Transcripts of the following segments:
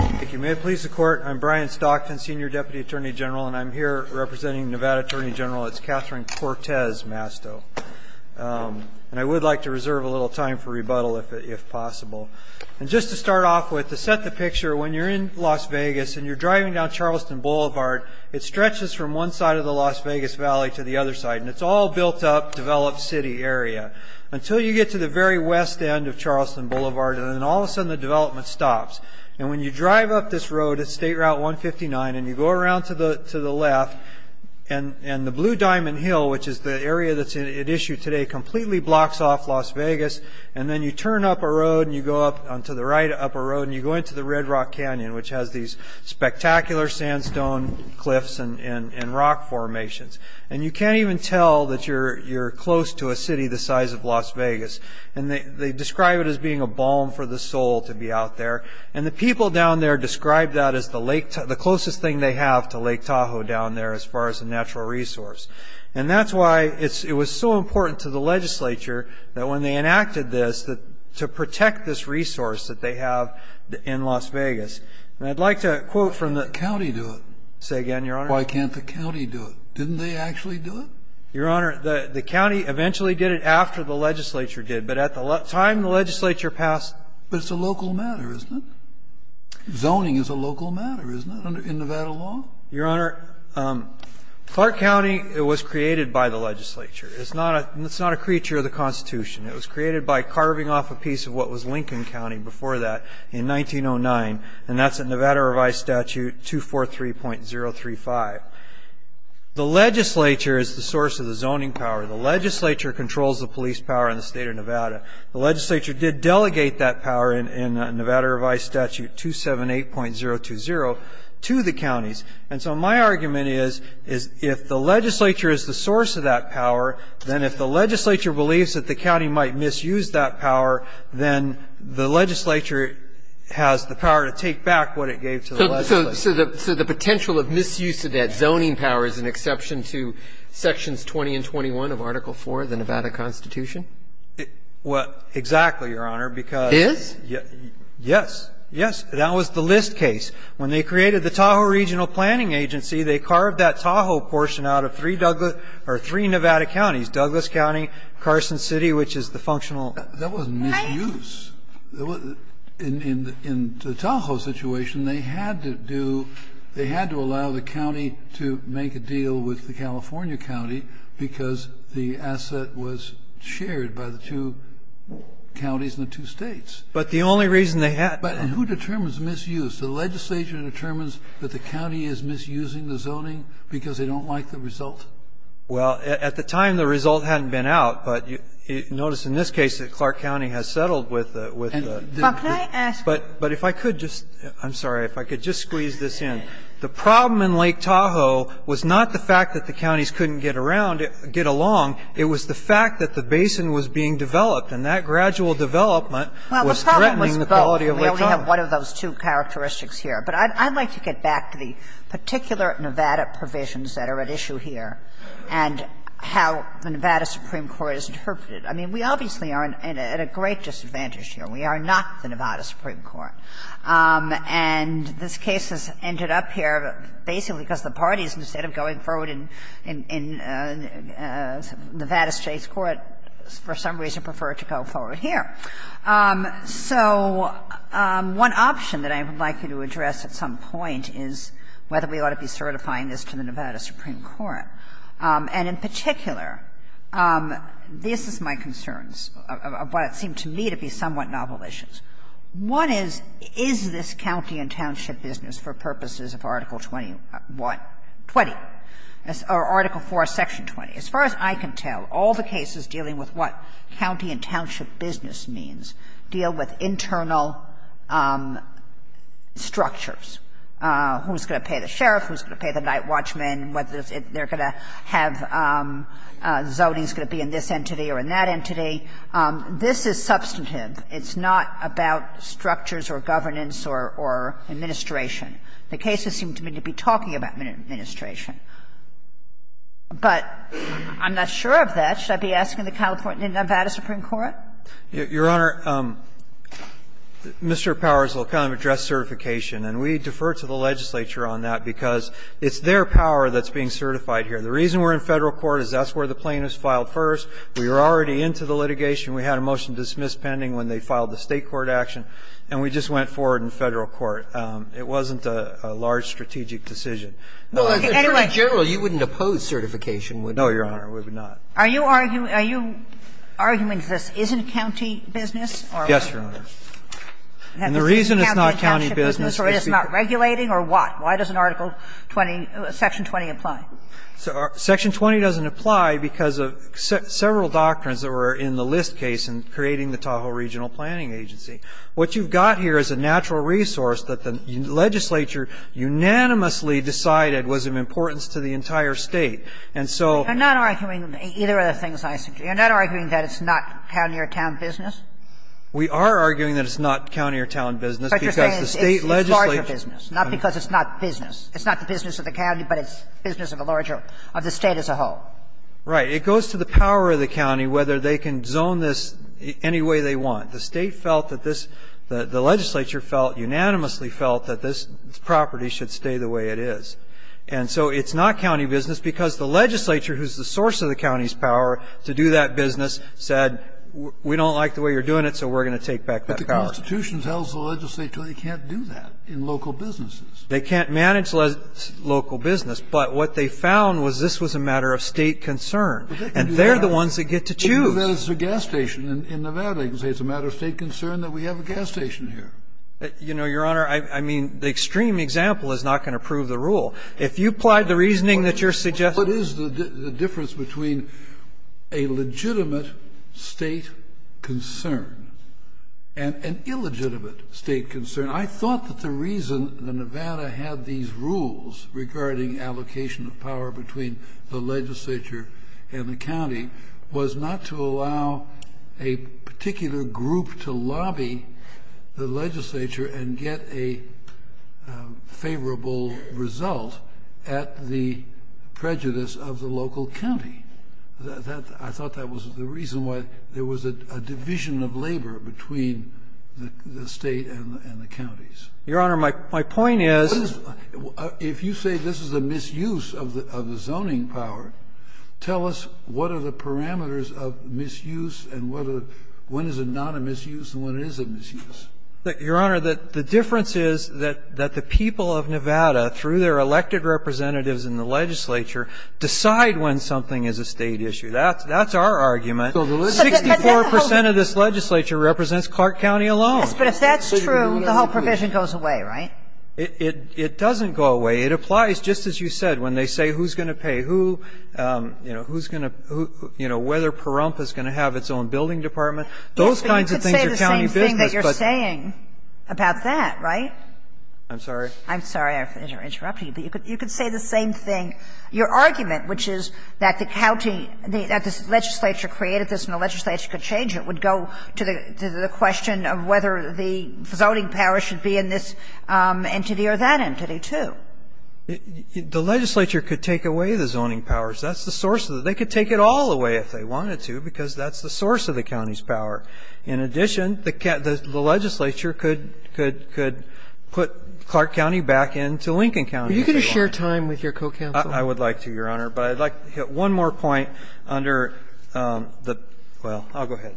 If you may please the court, I'm Brian Stockton, Senior Deputy Attorney General, and I'm here representing Nevada Attorney General. It's Catherine Cortez Masto. And I would like to reserve a little time for rebuttal if possible. And just to start off with, to set the picture, when you're in Las Vegas and you're driving down Charleston Boulevard, it stretches from one side of the Las Vegas Valley to the other side, and it's all built up, developed city area. Until you get to the very west end of Charleston Boulevard, and then all of a sudden the development stops. And when you drive up this road, it's State Route 159, and you go around to the left, and the Blue Diamond Hill, which is the area that's at issue today, completely blocks off Las Vegas. And then you turn up a road, and you go up onto the right upper road, and you go into the Red Rock Canyon, which has these spectacular sandstone cliffs and rock formations. And you can't even tell that you're close to a city the size of Las Vegas. And they describe it as being a balm for the soul to be out there. And the people down there describe that as the closest thing they have to Lake Tahoe down there as far as a natural resource. And that's why it was so important to the legislature that when they enacted this, to protect this resource that they have in Las Vegas. And I'd like to quote from the – Say again, Your Honor? Why can't the county do it? Didn't they actually do it? Your Honor, the county eventually did it after the legislature did. But at the time the legislature passed – But it's a local matter, isn't it? Zoning is a local matter, isn't it, in Nevada law? Your Honor, Clark County was created by the legislature. It's not a creature of the Constitution. It was created by carving off a piece of what was Lincoln County before that in 1909, and that's in Nevada Revised Statute 243.035. The legislature is the source of the zoning power. The legislature controls the police power in the state of Nevada. The legislature did delegate that power in Nevada Revised Statute 278.020 to the counties. And so my argument is if the legislature is the source of that power, then if the legislature believes that the county might misuse that power, then the legislature has the power to take back what it gave to the legislature. So the potential of misuse of that zoning power is an exception to Sections 20 and 21 of Article IV of the Nevada Constitution? Well, exactly, Your Honor, because – Is? Yes. Yes. That was the List case. When they created the Tahoe Regional Planning Agency, they carved that Tahoe portion out of three Nevada counties, Douglas County, Carson City, which is the functional – That wasn't misuse. In the Tahoe situation, they had to do – they had to allow the county to make a deal with the California county because the asset was shared by the two counties and the two states. But the only reason they had – But who determines misuse? The legislature determines that the county is misusing the zoning because they don't like the result. Well, at the time, the result hadn't been out, but notice in this case that Clark County has settled with the – But can I ask – But if I could just – I'm sorry. If I could just squeeze this in. The problem in Lake Tahoe was not the fact that the counties couldn't get around – get along. It was the fact that the basin was being developed, and that gradual development was threatening the quality of Lake Tahoe. Well, the problem was both. We only have one of those two characteristics here. But I'd like to get back to the particular Nevada provisions that are at issue here and how the Nevada Supreme Court has interpreted it. I mean, we obviously are at a great disadvantage here. We are not the Nevada Supreme Court. And this case has ended up here basically because the parties, instead of going forward in Nevada State's court, for some reason prefer to go forward here. So one option that I would like you to address at some point is whether we ought to be certifying this to the Nevada Supreme Court. And in particular, this is my concerns, of what seemed to me to be somewhat novel issues. One is, is this county and township business for purposes of Article 20 or Article 4, Section 20? As far as I can tell, all the cases dealing with what county and township business means deal with internal structures, who's going to pay the sheriff, who's going to pay the night watchman, whether they're going to have zoning's going to be in this entity or in that entity. This is substantive. It's not about structures or governance or administration. The cases seem to me to be talking about administration. But I'm not sure of that. Should I be asking the California and Nevada Supreme Court? Your Honor, Mr. Powers will kind of address certification, and we defer to the legislature on that, because it's their power that's being certified here. The reason we're in Federal court is that's where the plaintiffs filed first. We were already into the litigation. We had a motion dismissed pending when they filed the State court action, and we just went forward in Federal court. It wasn't a large strategic decision. Anyway. Well, as Attorney General, you wouldn't oppose certification, would you? No, Your Honor, we would not. Are you arguing this isn't county business? Yes, Your Honor. And the reason it's not county business is because it's not regulating or what? Why doesn't Article 20, Section 20, apply? Section 20 doesn't apply because of several doctrines that were in the List case in creating the Tahoe Regional Planning Agency. What you've got here is a natural resource that the legislature unanimously decided was of importance to the entire State. And so you're not arguing that it's not county or town business? We are arguing that it's not county or town business, because the State legislature It's larger business, not because it's not business. It's not the business of the county, but it's business of a larger of the State as a whole. Right. It goes to the power of the county whether they can zone this any way they want. The State felt that this, the legislature felt, unanimously felt that this property should stay the way it is. And so it's not county business because the legislature, who's the source of the county's power to do that business, said, we don't like the way you're doing it, so we're going to take back that power. But the Constitution tells the legislature they can't do that in local businesses. They can't manage local business. But what they found was this was a matter of State concern. And they're the ones that get to choose. I don't know that it's a gas station in Nevada. You can say it's a matter of State concern that we have a gas station here. You know, Your Honor, I mean, the extreme example is not going to prove the rule. If you applied the reasoning that you're suggesting to me. What is the difference between a legitimate State concern and an illegitimate State concern? I thought that the reason that Nevada had these rules regarding allocation of power between the legislature and the county was not to allow a particular group to lobby the legislature and get a favorable result at the prejudice of the local county. I thought that was the reason why there was a division of labor between the State and the counties. Your Honor, my point is. If you say this is a misuse of the zoning power, tell us what are the parameters of misuse and when is it not a misuse and when is it a misuse? Your Honor, the difference is that the people of Nevada, through their elected representatives in the legislature, decide when something is a State issue. That's our argument. 64 percent of this legislature represents Clark County alone. Yes, but if that's true, the whole provision goes away, right? It doesn't go away. It applies, just as you said, when they say who's going to pay, who, you know, who's going to, you know, whether Pahrump is going to have its own building department. Those kinds of things are county business, but. You could say the same thing that you're saying about that, right? I'm sorry? I'm sorry. I'm interrupting you. But you could say the same thing. Your argument, which is that the county, that this legislature created this and the legislature could change it, would go to the question of whether the zoning power should be in this entity or that entity, too. The legislature could take away the zoning powers. That's the source. They could take it all away if they wanted to, because that's the source of the county's power. In addition, the legislature could put Clark County back into Lincoln County. Are you going to share time with your co-counsel? I would like to, Your Honor. But I'd like to hit one more point under the – well, I'll go ahead.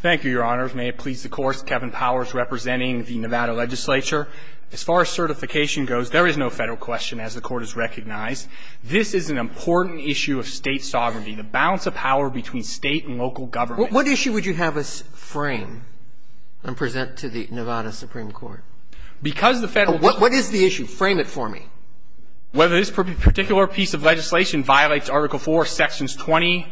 Thank you, Your Honor. May it please the Court. Kevin Powers representing the Nevada legislature. As far as certification goes, there is no Federal question, as the Court has recognized. This is an important issue of State sovereignty, the balance of power between State and local government. What issue would you have us frame and present to the Nevada Supreme Court? Because the Federal – What is the issue? Frame it for me. Well, this particular piece of legislation violates Article 4, Sections 20,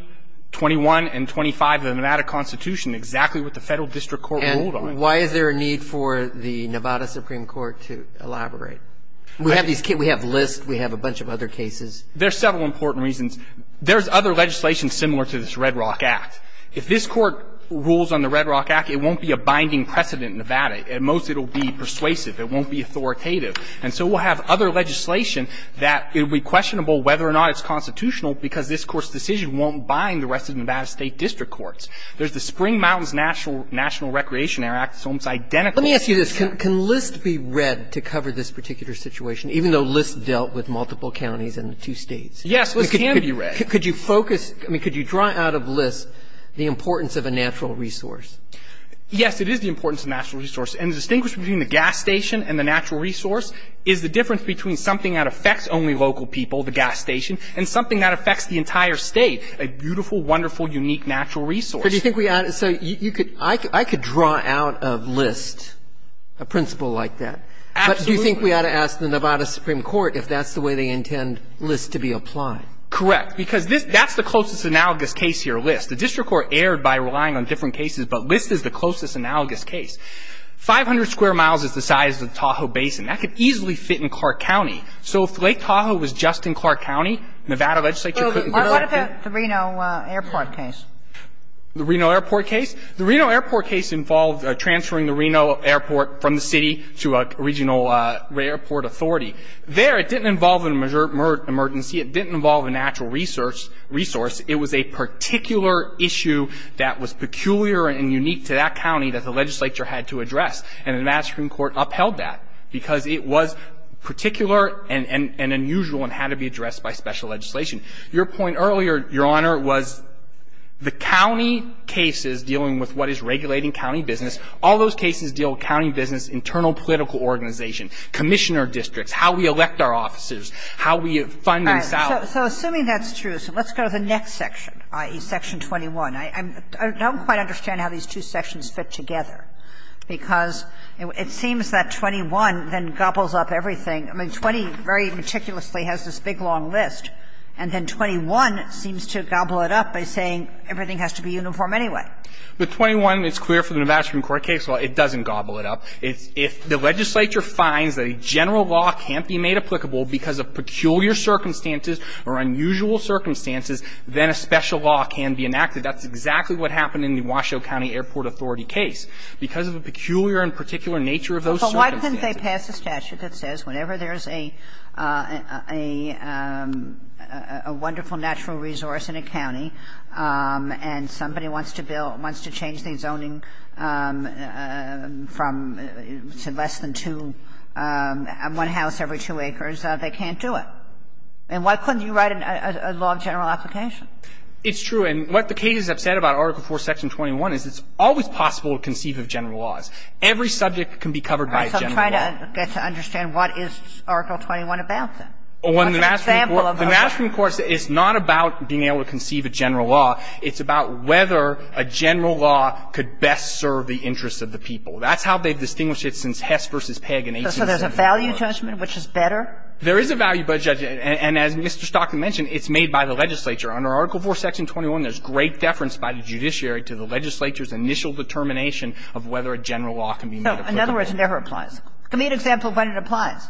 21, and 25 of the Nevada Constitution, exactly what the Federal District Court ruled on. And why is there a need for the Nevada Supreme Court to elaborate? We have these – we have lists. We have a bunch of other cases. There are several important reasons. There's other legislation similar to this Red Rock Act. If this Court rules on the Red Rock Act, it won't be a binding precedent in Nevada. At most, it will be persuasive. It won't be authoritative. And so we'll have other legislation that it would be questionable whether or not it's constitutional because this Court's decision won't bind the rest of the Nevada State District Courts. There's the Spring Mountains National Recreation Act. It's almost identical. Let me ask you this. Can lists be read to cover this particular situation, even though lists dealt with multiple counties and the two States? Yes, lists can be read. Could you focus – I mean, could you draw out of lists the importance of a natural resource? Yes, it is the importance of a natural resource. And the distinction between the gas station and the natural resource is the difference between something that affects only local people, the gas station, and something that affects the entire State, a beautiful, wonderful, unique natural resource. But do you think we ought to – so you could – I could draw out of lists a principle like that. Absolutely. But do you think we ought to ask the Nevada Supreme Court if that's the way they intend lists to be applied? Correct. Because this – that's the closest analogous case here, lists. The district court erred by relying on different cases, but lists is the closest analogous case. 500 square miles is the size of the Tahoe Basin. That could easily fit in Clark County. So if Lake Tahoe was just in Clark County, Nevada legislature couldn't do that. So what about the Reno airport case? The Reno airport case? The Reno airport case involved transferring the Reno airport from the city to a regional airport authority. There, it didn't involve an emergency. It didn't involve a natural resource. It was a particular issue that was peculiar and unique to that county that the legislature had to address. And the Nevada Supreme Court upheld that because it was particular and unusual and had to be addressed by special legislation. Your point earlier, Your Honor, was the county cases dealing with what is regulating county business, all those cases deal with county business, internal political organization, commissioner districts, how we elect our officers, how we fund and salvage. All right. So assuming that's true, so let's go to the next section, i.e., section 21. I don't quite understand how these two sections fit together, because it seems that 21 then gobbles up everything. I mean, 20 very meticulously has this big, long list, and then 21 seems to gobble it up by saying everything has to be uniform anyway. But 21 is clear for the Nevada Supreme Court case. Well, it doesn't gobble it up. If the legislature finds that a general law can't be made applicable because of peculiar circumstances or unusual circumstances, then a special law can be enacted. That's exactly what happened in the Washoe County Airport Authority case. Because of a peculiar and particular nature of those circumstances. But why couldn't they pass a statute that says whenever there's a wonderful natural resource in a county and somebody wants to build, wants to change the zoning from less than two, one house every two acres, they can't do it? And why couldn't you write a law of general application? It's true. And what the cases have said about Article IV, Section 21 is it's always possible to conceive of general laws. Every subject can be covered by a general law. All right. So I'm trying to get to understand what is Article 21 about, then. What's an example of a general law? The Nevada Supreme Court is not about being able to conceive a general law. It's about whether a general law could best serve the interests of the people. That's how they've distinguished it since Hess v. Pegg in 1870. So there's a value judgment, which is better? There is a value judgment. And as Mr. Stockton mentioned, it's made by the legislature. Under Article IV, Section 21, there's great deference by the judiciary to the legislature's initial determination of whether a general law can be made applicable. In other words, it never applies. Give me an example of when it applies.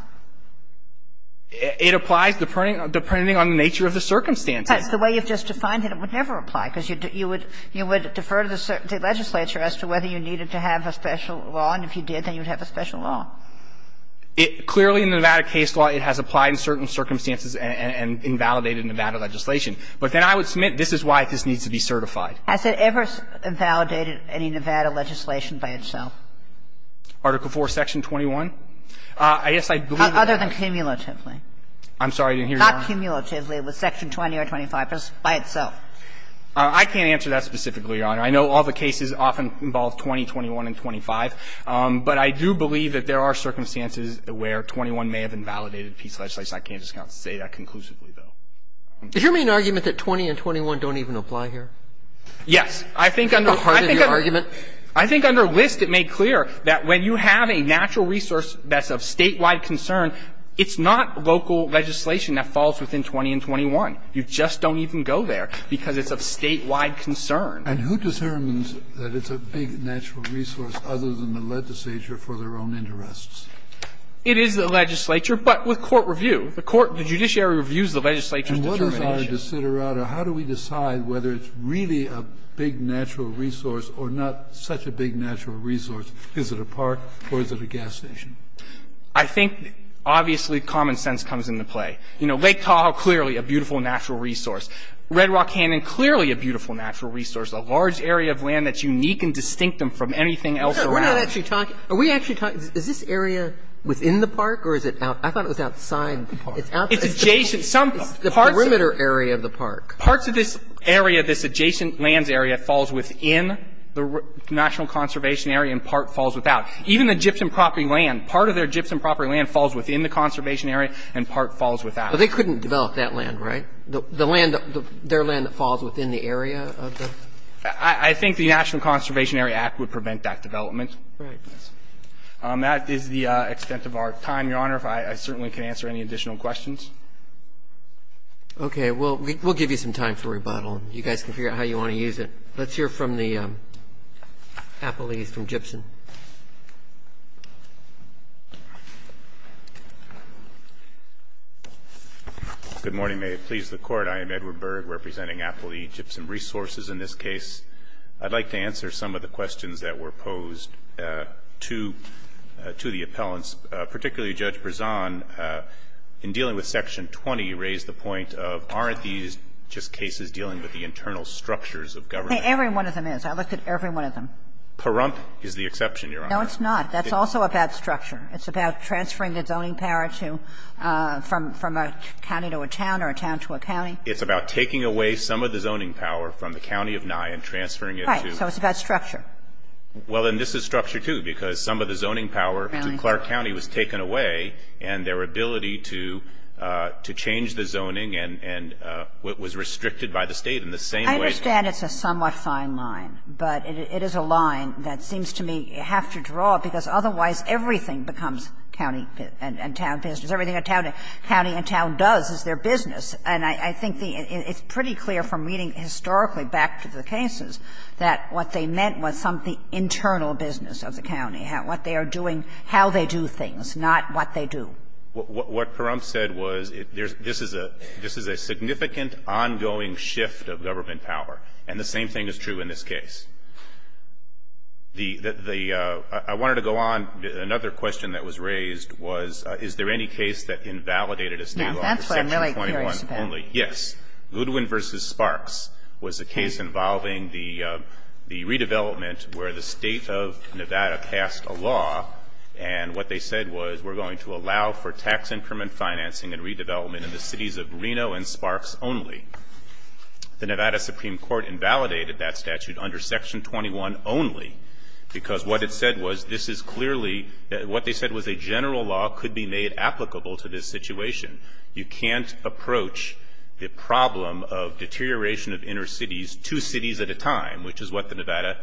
It applies depending on the nature of the circumstances. Because the way you've just defined it, it would never apply, because you would defer to the legislature as to whether you needed to have a special law. And if you did, then you would have a special law. Clearly, in the Nevada case law, it has applied in certain circumstances and invalidated Nevada legislation. But then I would submit this is why this needs to be certified. Has it ever invalidated any Nevada legislation by itself? Article IV, Section 21? I guess I believe it has. Other than cumulatively. I'm sorry. I didn't hear your question. Other than cumulatively, was Section 20 or 25 by itself? I can't answer that specifically, Your Honor. I know all the cases often involve 20, 21, and 25. But I do believe that there are circumstances where 21 may have invalidated a piece of legislation. I can't just say that conclusively, though. Did you make an argument that 20 and 21 don't even apply here? Yes. I think under List it made clear that when you have a natural resource that's of statewide concern, it's not local legislation that falls within 20 and 21. You just don't even go there because it's of statewide concern. And who determines that it's a big natural resource other than the legislature for their own interests? It is the legislature, but with court review. The court, the judiciary reviews the legislature's determination. And what is our desiderata? How do we decide whether it's really a big natural resource or not such a big natural resource? Is it a park or is it a gas station? I think, obviously, common sense comes into play. You know, Lake Tahoe, clearly a beautiful natural resource. Red Rock Canyon, clearly a beautiful natural resource, a large area of land that's unique and distinctive from anything else around. We're not actually talking – are we actually talking – is this area within the park or is it out – I thought it was outside the park. It's adjacent some – It's the perimeter area of the park. Parts of this area, this adjacent lands area, falls within the national conservation area and part falls without. Even the gypsum property land, part of their gypsum property land falls within the conservation area and part falls without. But they couldn't develop that land, right? The land – their land that falls within the area of the – I think the National Conservation Area Act would prevent that development. Right. That is the extent of our time, Your Honor. I certainly can answer any additional questions. Okay. We'll give you some time for rebuttal. You guys can figure out how you want to use it. Let's hear from the appellees from gypsum. Good morning. May it please the Court. I am Edward Berg, representing Apple E. Gypsum Resources in this case. I'd like to answer some of the questions that were posed to – to the appellants, particularly Judge Berzon. In dealing with Section 20, you raised the point of aren't these just cases dealing with the internal structures of government? Every one of them is. I looked at every one of them. Pahrump is the exception, Your Honor. No, it's not. That's also about structure. It's about transferring the zoning power to – from a county to a town or a town to a county. It's about taking away some of the zoning power from the county of Nye and transferring it to – Right. So it's about structure. Well, and this is structure, too, because some of the zoning power to Clark County was taken away, and their ability to change the zoning and – was restricted by the State in the same way – I understand it's a somewhat fine line, but it is a line that seems to me you have to draw, because otherwise everything becomes county and town business. Everything a county and town does is their business. And I think the – it's pretty clear from reading historically back to the cases that what they meant was some of the internal business of the county, what they are doing, how they do things, not what they do. What Parumph said was there's – this is a – this is a significant ongoing shift of government power. And the same thing is true in this case. The – I wanted to go on. Another question that was raised was is there any case that invalidated a state law for Section 21 only? Now, that's what I'm really curious about. Yes. Goodwin v. Sparks was a case involving the redevelopment where the State of Nevada passed a law, and what they said was we're going to allow for tax increment financing and redevelopment in the cities of Reno and Sparks only. The Nevada Supreme Court invalidated that statute under Section 21 only, because what it said was this is clearly – what they said was a general law could be made applicable to this situation. You can't approach the problem of deterioration of inner cities two cities at a time, which is what the Nevada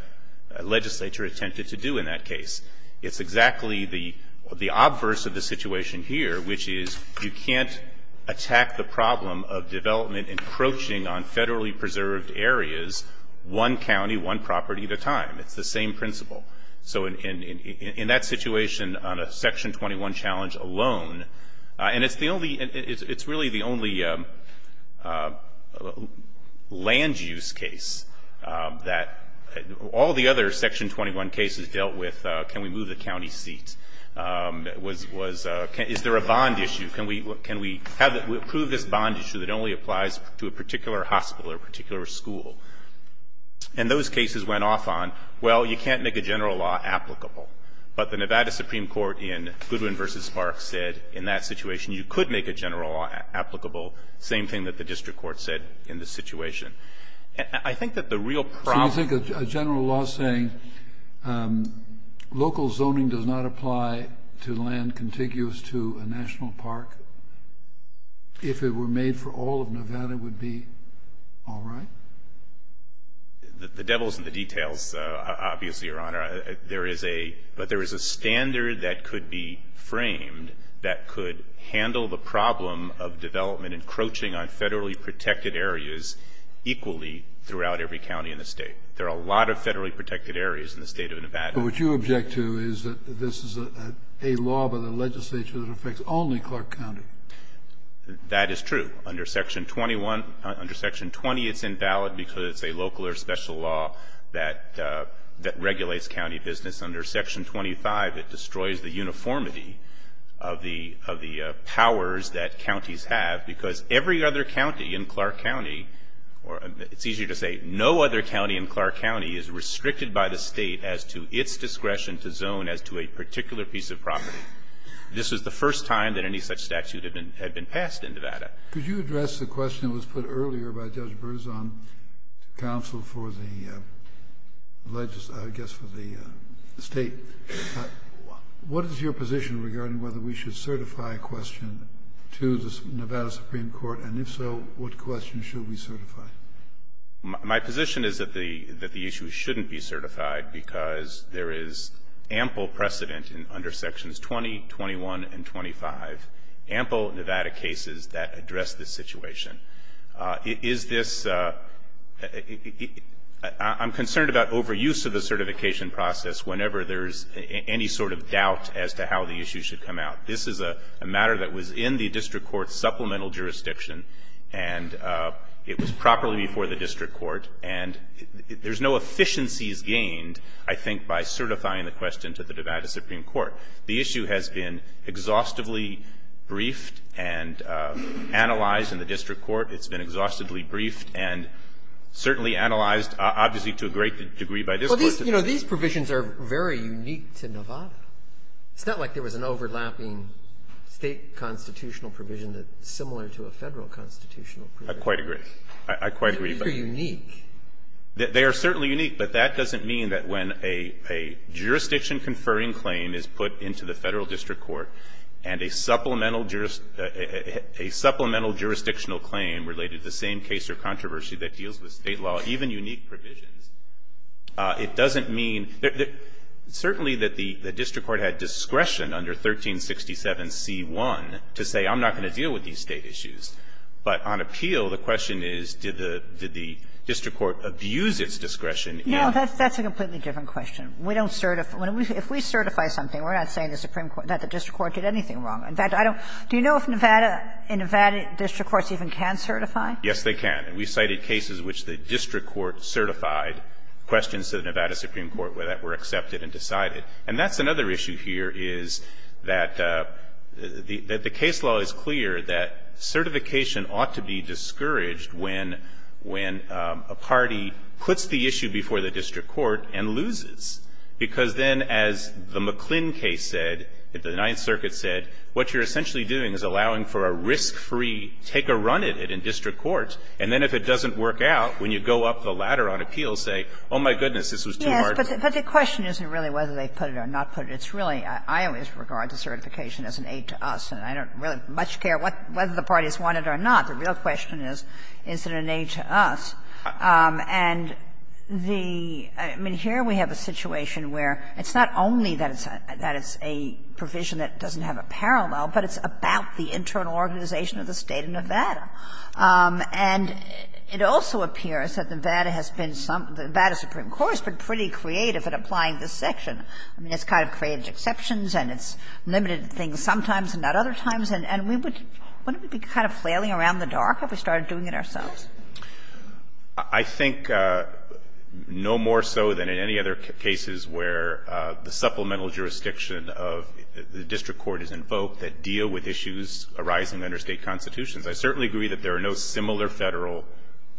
legislature attempted to do in that case. It's exactly the – the obverse of the situation here, which is you can't attack the problem of development encroaching on federally preserved areas one county, one property at a time. It's the same principle. So in that situation on a Section 21 challenge alone – and it's the only – all the other Section 21 cases dealt with can we move the county seat? Was – is there a bond issue? Can we have – prove this bond issue that only applies to a particular hospital or a particular school? And those cases went off on, well, you can't make a general law applicable. But the Nevada Supreme Court in Goodwin v. Sparks said in that situation you could make a general law applicable, same thing that the district court said in this situation. I think that the real problem – So you think a general law saying local zoning does not apply to land contiguous to a national park if it were made for all of Nevada would be all right? The devil's in the details, obviously, Your Honor. There is a – but there is a standard that could be framed that could handle the equally throughout every county in the state. There are a lot of federally protected areas in the state of Nevada. But what you object to is that this is a law by the legislature that affects only Clark County. That is true. Under Section 21 – under Section 20 it's invalid because it's a local or special law that – that regulates county business. Under Section 25 it destroys the uniformity of the – of the powers that counties have because every other county in Clark County – or it's easier to say no other county in Clark County is restricted by the State as to its discretion to zone as to a particular piece of property. This was the first time that any such statute had been passed in Nevada. Could you address the question that was put earlier by Judge Berzon to counsel for the legislature – I guess for the State? What is your position regarding whether we should certify a question to the Supreme Court and if so, what question should we certify? My position is that the – that the issue shouldn't be certified because there is ample precedent under Sections 20, 21 and 25, ample Nevada cases that address this situation. Is this – I'm concerned about overuse of the certification process whenever there's any sort of doubt as to how the issue should come out. This is a matter that was in the district court's supplemental jurisdiction and it was properly before the district court and there's no efficiencies gained, I think, by certifying the question to the Nevada Supreme Court. The issue has been exhaustively briefed and analyzed in the district court. It's been exhaustively briefed and certainly analyzed, obviously, to a great degree by this Court. Well, these – you know, these provisions are very unique to Nevada. It's not like there was an overlapping State constitutional provision that's similar to a Federal constitutional provision. I quite agree. I quite agree. These are unique. They are certainly unique, but that doesn't mean that when a jurisdiction-conferring claim is put into the Federal district court and a supplemental – a supplemental jurisdictional claim related to the same case or controversy that deals with State law, even unique provisions, it doesn't mean – certainly that the district court had discretion under 1367c1 to say, I'm not going to deal with these State issues, but on appeal, the question is, did the district court abuse its discretion in – No, that's a completely different question. We don't – if we certify something, we're not saying the Supreme Court – that the district court did anything wrong. In fact, I don't – do you know if Nevada – if Nevada district courts even can certify? Yes, they can. We cited cases in which the district court certified questions to the Nevada Supreme Court that were accepted and decided. And that's another issue here, is that the – that the case law is clear that certification ought to be discouraged when – when a party puts the issue before the district court and loses, because then, as the McClin case said, the Ninth Circuit said, what you're essentially doing is allowing for a risk-free take-a-run at it in district courts. And then if it doesn't work out, when you go up the ladder on appeals, say, oh, my goodness, this was too hard for me. Yes, but the question isn't really whether they put it or not put it. It's really – I always regard the certification as an aid to us, and I don't really much care what – whether the parties want it or not. The real question is, is it an aid to us? And the – I mean, here we have a situation where it's not only that it's a – that it's a provision that doesn't have a parallel, but it's about the internal organization of the State of Nevada. And it also appears that Nevada has been – the Nevada Supreme Court has been pretty creative in applying this section. I mean, it's kind of created exceptions, and it's limited things sometimes and not other times. And we would – wouldn't we be kind of flailing around in the dark if we started doing it ourselves? I think no more so than in any other cases where the supplemental jurisdiction of the district court is invoked that deal with issues arising under State constitutions. I certainly agree that there are no similar Federal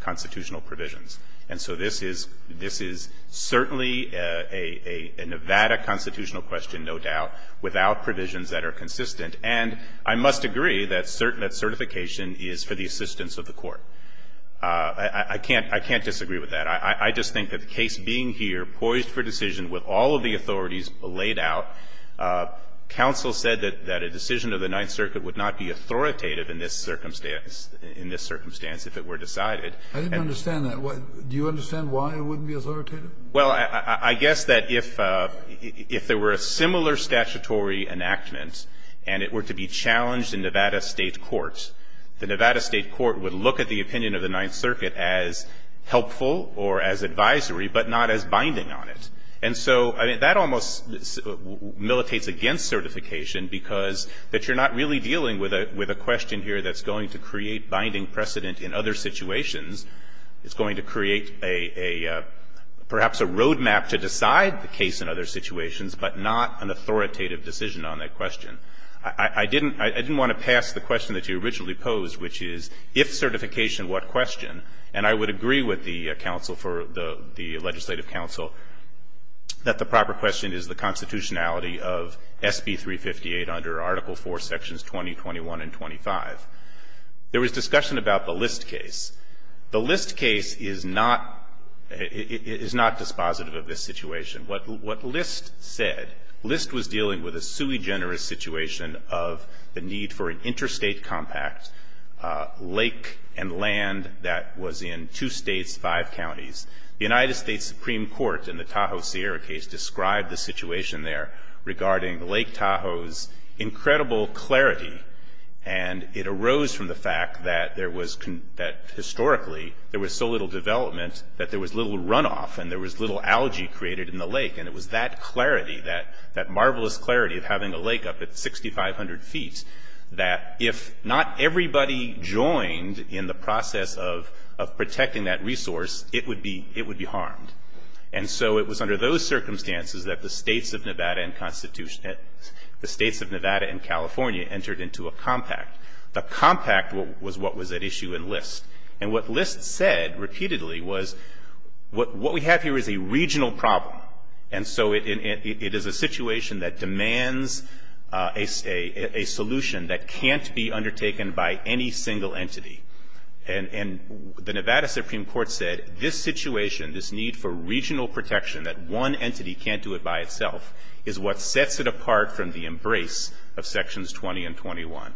constitutional provisions. And so this is – this is certainly a Nevada constitutional question, no doubt, without provisions that are consistent. And I must agree that certification is for the assistance of the court. I can't – I can't disagree with that. I just think that the case being here, poised for decision with all of the authorities laid out, counsel said that a decision of the Ninth Circuit would not be authoritative in this circumstance – in this circumstance if it were decided. I didn't understand that. Do you understand why it wouldn't be authoritative? Well, I guess that if – if there were a similar statutory enactment and it were to be challenged in Nevada State court, the Nevada State court would look at the opinion of the Ninth Circuit as helpful or as advisory, but not as binding on it. And so, I mean, that almost militates against certification because – that you're not really dealing with a question here that's going to create binding precedent in other situations. It's going to create a – perhaps a road map to decide the case in other situations, but not an authoritative decision on that question. I didn't – I didn't want to pass the question that you originally posed, which is, if certification, what question? And I would agree with the counsel for the – the legislative counsel that the proper question is the constitutionality of SB 358 under Article 4, Sections 20, 21, and 25. There was discussion about the List case. The List case is not – is not dispositive of this situation. What List said – List was dealing with a sui generis situation of the need for an interstate compact lake and land that was in two states, five counties. The United States Supreme Court in the Tahoe-Sierra case described the situation there regarding Lake Tahoe's incredible clarity, and it arose from the fact that there was – that historically, there was so little development that there was little runoff and there was little algae created in the lake. And it was that clarity, that – that marvelous clarity of having a lake up at 6,500 feet, that if not everybody joined in the process of – of protecting that resource, it would be – it would be harmed. And so it was under those circumstances that the states of Nevada and – the states of Nevada and California entered into a compact. The compact was what was at issue in List. And what List said repeatedly was, what we have here is a regional problem, and so it is a situation that demands a solution that can't be undertaken by any single entity. And – and the Nevada Supreme Court said, this situation, this need for regional protection, that one entity can't do it by itself, is what sets it apart from the embrace of Sections 20 and 21.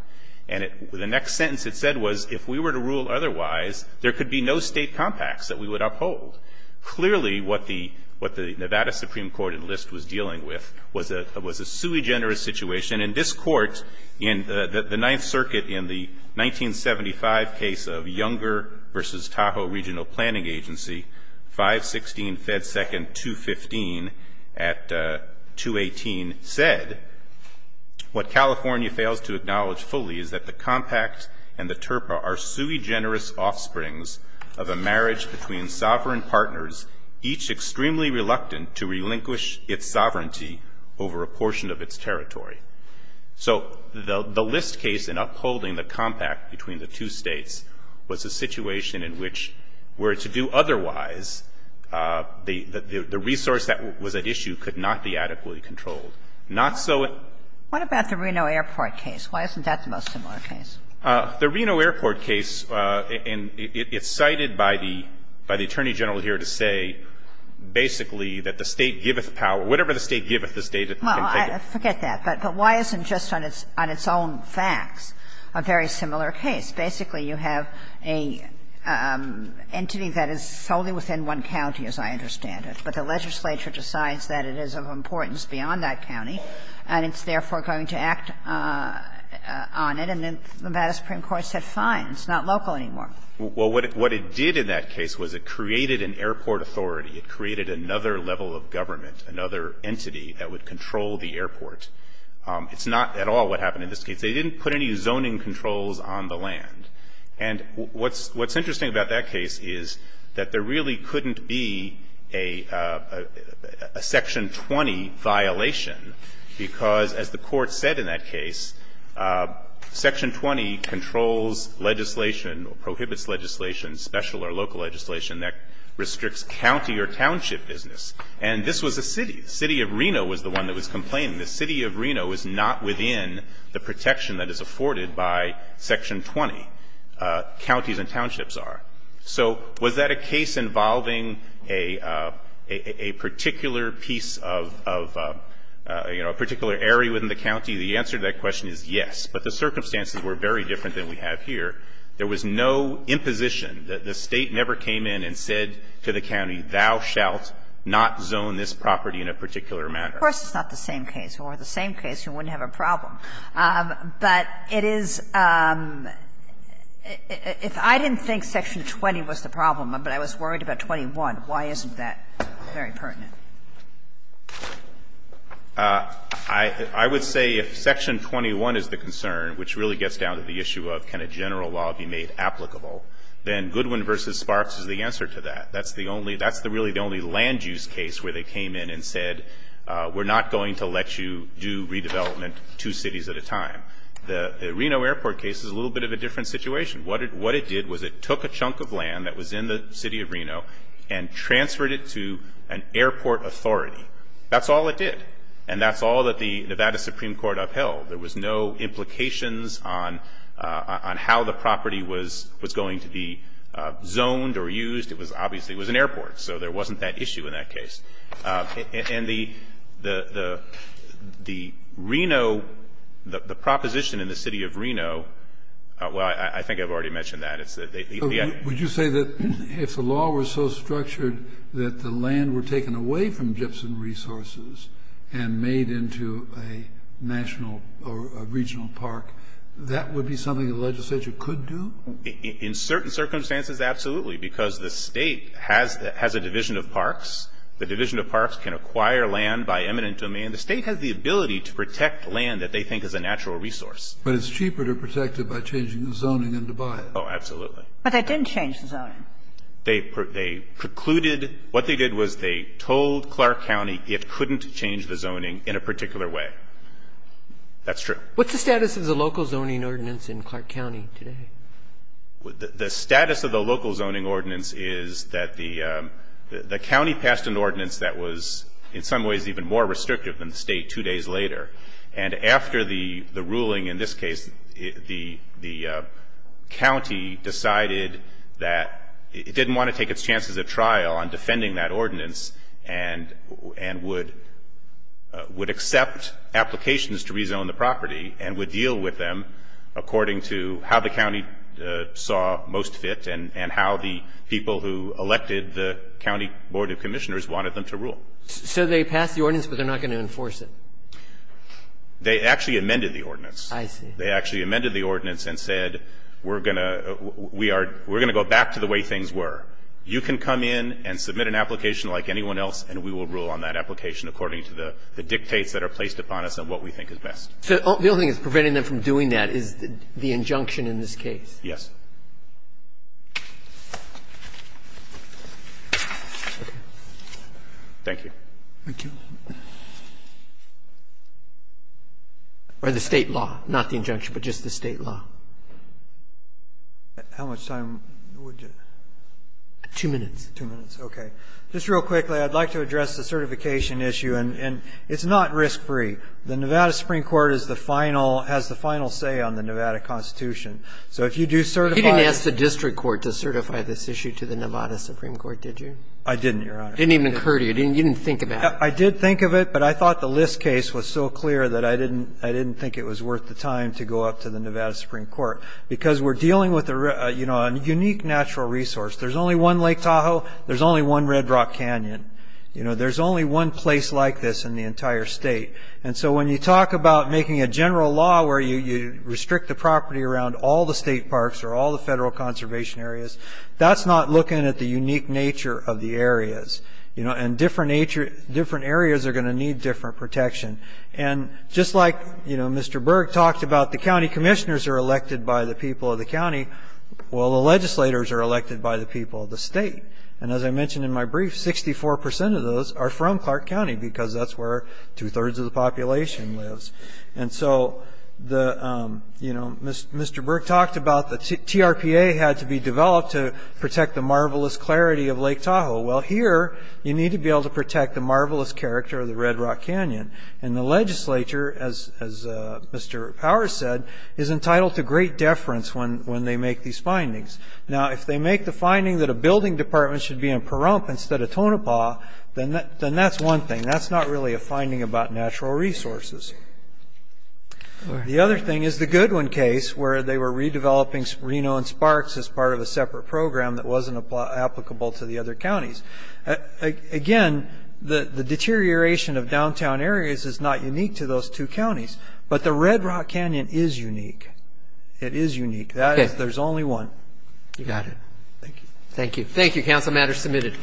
And it – the next sentence it said was, if we were to rule otherwise, there could be no state compacts that we would uphold. Clearly, what the – what the Nevada Supreme Court in List was dealing with was a – was a sui generis situation. And in this court, in the – the Ninth Circuit in the 1975 case of Younger v. Tahoe Regional Planning Agency, 516 Fed 2nd 215 at 218, said, what California fails to acknowledge fully is that the compact and the TURPA are sui generis offsprings of a marriage between sovereign partners, each extremely reluctant to relinquish its sovereignty over a portion of its territory. So the – the List case in upholding the compact between the two States was a situation in which, were it to do otherwise, the – the resource that was at issue could not be adequately controlled. Not so at the Reno Airport case. Why isn't that the most similar case? The Reno Airport case, and it's cited by the – by the Attorney General here to say, basically, that the State giveth power. Whatever the State giveth, the State can take it. Well, forget that. But why isn't, just on its own facts, a very similar case? Basically, you have an entity that is solely within one county, as I understand it, but the legislature decides that it is of importance beyond that county, and it's therefore going to act on it, and then the Madis Supreme Court said, fine, it's not local anymore. Well, what it did in that case was it created an airport authority. It created another level of government, another entity that would control the airport. It's not at all what happened in this case. They didn't put any zoning controls on the land. And what's – what's interesting about that case is that there really couldn't be a – a Section 20 violation, because, as the Court said in that case, Section 20 controls legislation or prohibits legislation, special or local legislation, that restricts county or township business. And this was a city. The City of Reno was the one that was complaining. The City of Reno is not within the protection that is afforded by Section 20. Counties and townships are. So was that a case involving a – a particular piece of, you know, a particular area within the county? The answer to that question is yes, but the circumstances were very different than we have here. There was no imposition. The State never came in and said to the county, thou shalt not zone this property in a particular manner. Of course, it's not the same case. Over the same case, you wouldn't have a problem. But it is – if I didn't think Section 20 was the problem, but I was worried about 21, why isn't that very pertinent? I would say if Section 21 is the concern, which really gets down to the issue of kind of why be made applicable, then Goodwin versus Sparks is the answer to that. That's the only – that's really the only land use case where they came in and said, we're not going to let you do redevelopment two cities at a time. The Reno Airport case is a little bit of a different situation. What it did was it took a chunk of land that was in the City of Reno and transferred it to an airport authority. That's all it did. And that's all that the Nevada Supreme Court upheld. There was no implications on how the property was going to be zoned or used. It was – obviously, it was an airport. So there wasn't that issue in that case. And the Reno – the proposition in the City of Reno – well, I think I've already mentioned that. It's that they – Kennedy. Would you say that if the law was so structured that the land were taken away from a national or a regional park, that would be something the legislature could do? In certain circumstances, absolutely, because the State has a division of parks. The division of parks can acquire land by eminent domain. The State has the ability to protect land that they think is a natural resource. But it's cheaper to protect it by changing the zoning than to buy it. Oh, absolutely. But they didn't change the zoning. They precluded – what they did was they told Clark County it couldn't change the zoning in a particular way. That's true. What's the status of the local zoning ordinance in Clark County today? The status of the local zoning ordinance is that the county passed an ordinance that was in some ways even more restrictive than the State two days later. And after the ruling in this case, the county decided that it didn't want to take its chances of trial on defending that ordinance and would accept applications to rezone the property and would deal with them according to how the county saw most fit and how the people who elected the county board of commissioners wanted them to rule. So they passed the ordinance, but they're not going to enforce it? They actually amended the ordinance. I see. They actually amended the ordinance and said, We're going to go back to the way things were. You can come in and submit an application like anyone else, and we will rule on that application according to the dictates that are placed upon us and what we think is best. So the only thing that's preventing them from doing that is the injunction in this case? Yes. Thank you. Thank you. Or the State law, not the injunction, but just the State law? How much time would you? Two minutes. Two minutes. Okay. Just real quickly, I'd like to address the certification issue. And it's not risk-free. The Nevada Supreme Court is the final, has the final say on the Nevada Constitution. So if you do certify it. You didn't ask the district court to certify this issue to the Nevada Supreme Court, did you? I didn't, Your Honor. It didn't even occur to you. You didn't think about it. I did think of it, but I thought the List case was so clear that I didn't think it was worth the time to go up to the Nevada Supreme Court. Because we're dealing with a unique natural resource. There's only one Lake Tahoe. There's only one Red Rock Canyon. There's only one place like this in the entire state. And so when you talk about making a general law where you restrict the property around all the state parks or all the federal conservation areas, that's not looking at the unique nature of the areas. And different areas are going to need different protection. And just like, you know, Mr. Berg talked about the county commissioners are elected by the people of the county, well, the legislators are elected by the people of the state. And as I mentioned in my brief, 64 percent of those are from Clark County because that's where two-thirds of the population lives. And so, you know, Mr. Berg talked about the TRPA had to be developed to protect the marvelous clarity of Lake Tahoe. Well, here you need to be able to protect the marvelous character of the Red Rock Canyon. And the legislature, as Mr. Powers said, is entitled to great deference when they make these findings. Now, if they make the finding that a building department should be in Pahrump instead of Tonopah, then that's one thing. That's not really a finding about natural resources. The other thing is the Goodwin case where they were redeveloping Reno and Sparks as part of a separate program that wasn't applicable to the other counties. Again, the deterioration of downtown areas is not unique to those two counties, but the Red Rock Canyon is unique. It is unique. There's only one. You got it. Thank you. Thank you. Thank you. Any other council matters submitted? Thank you.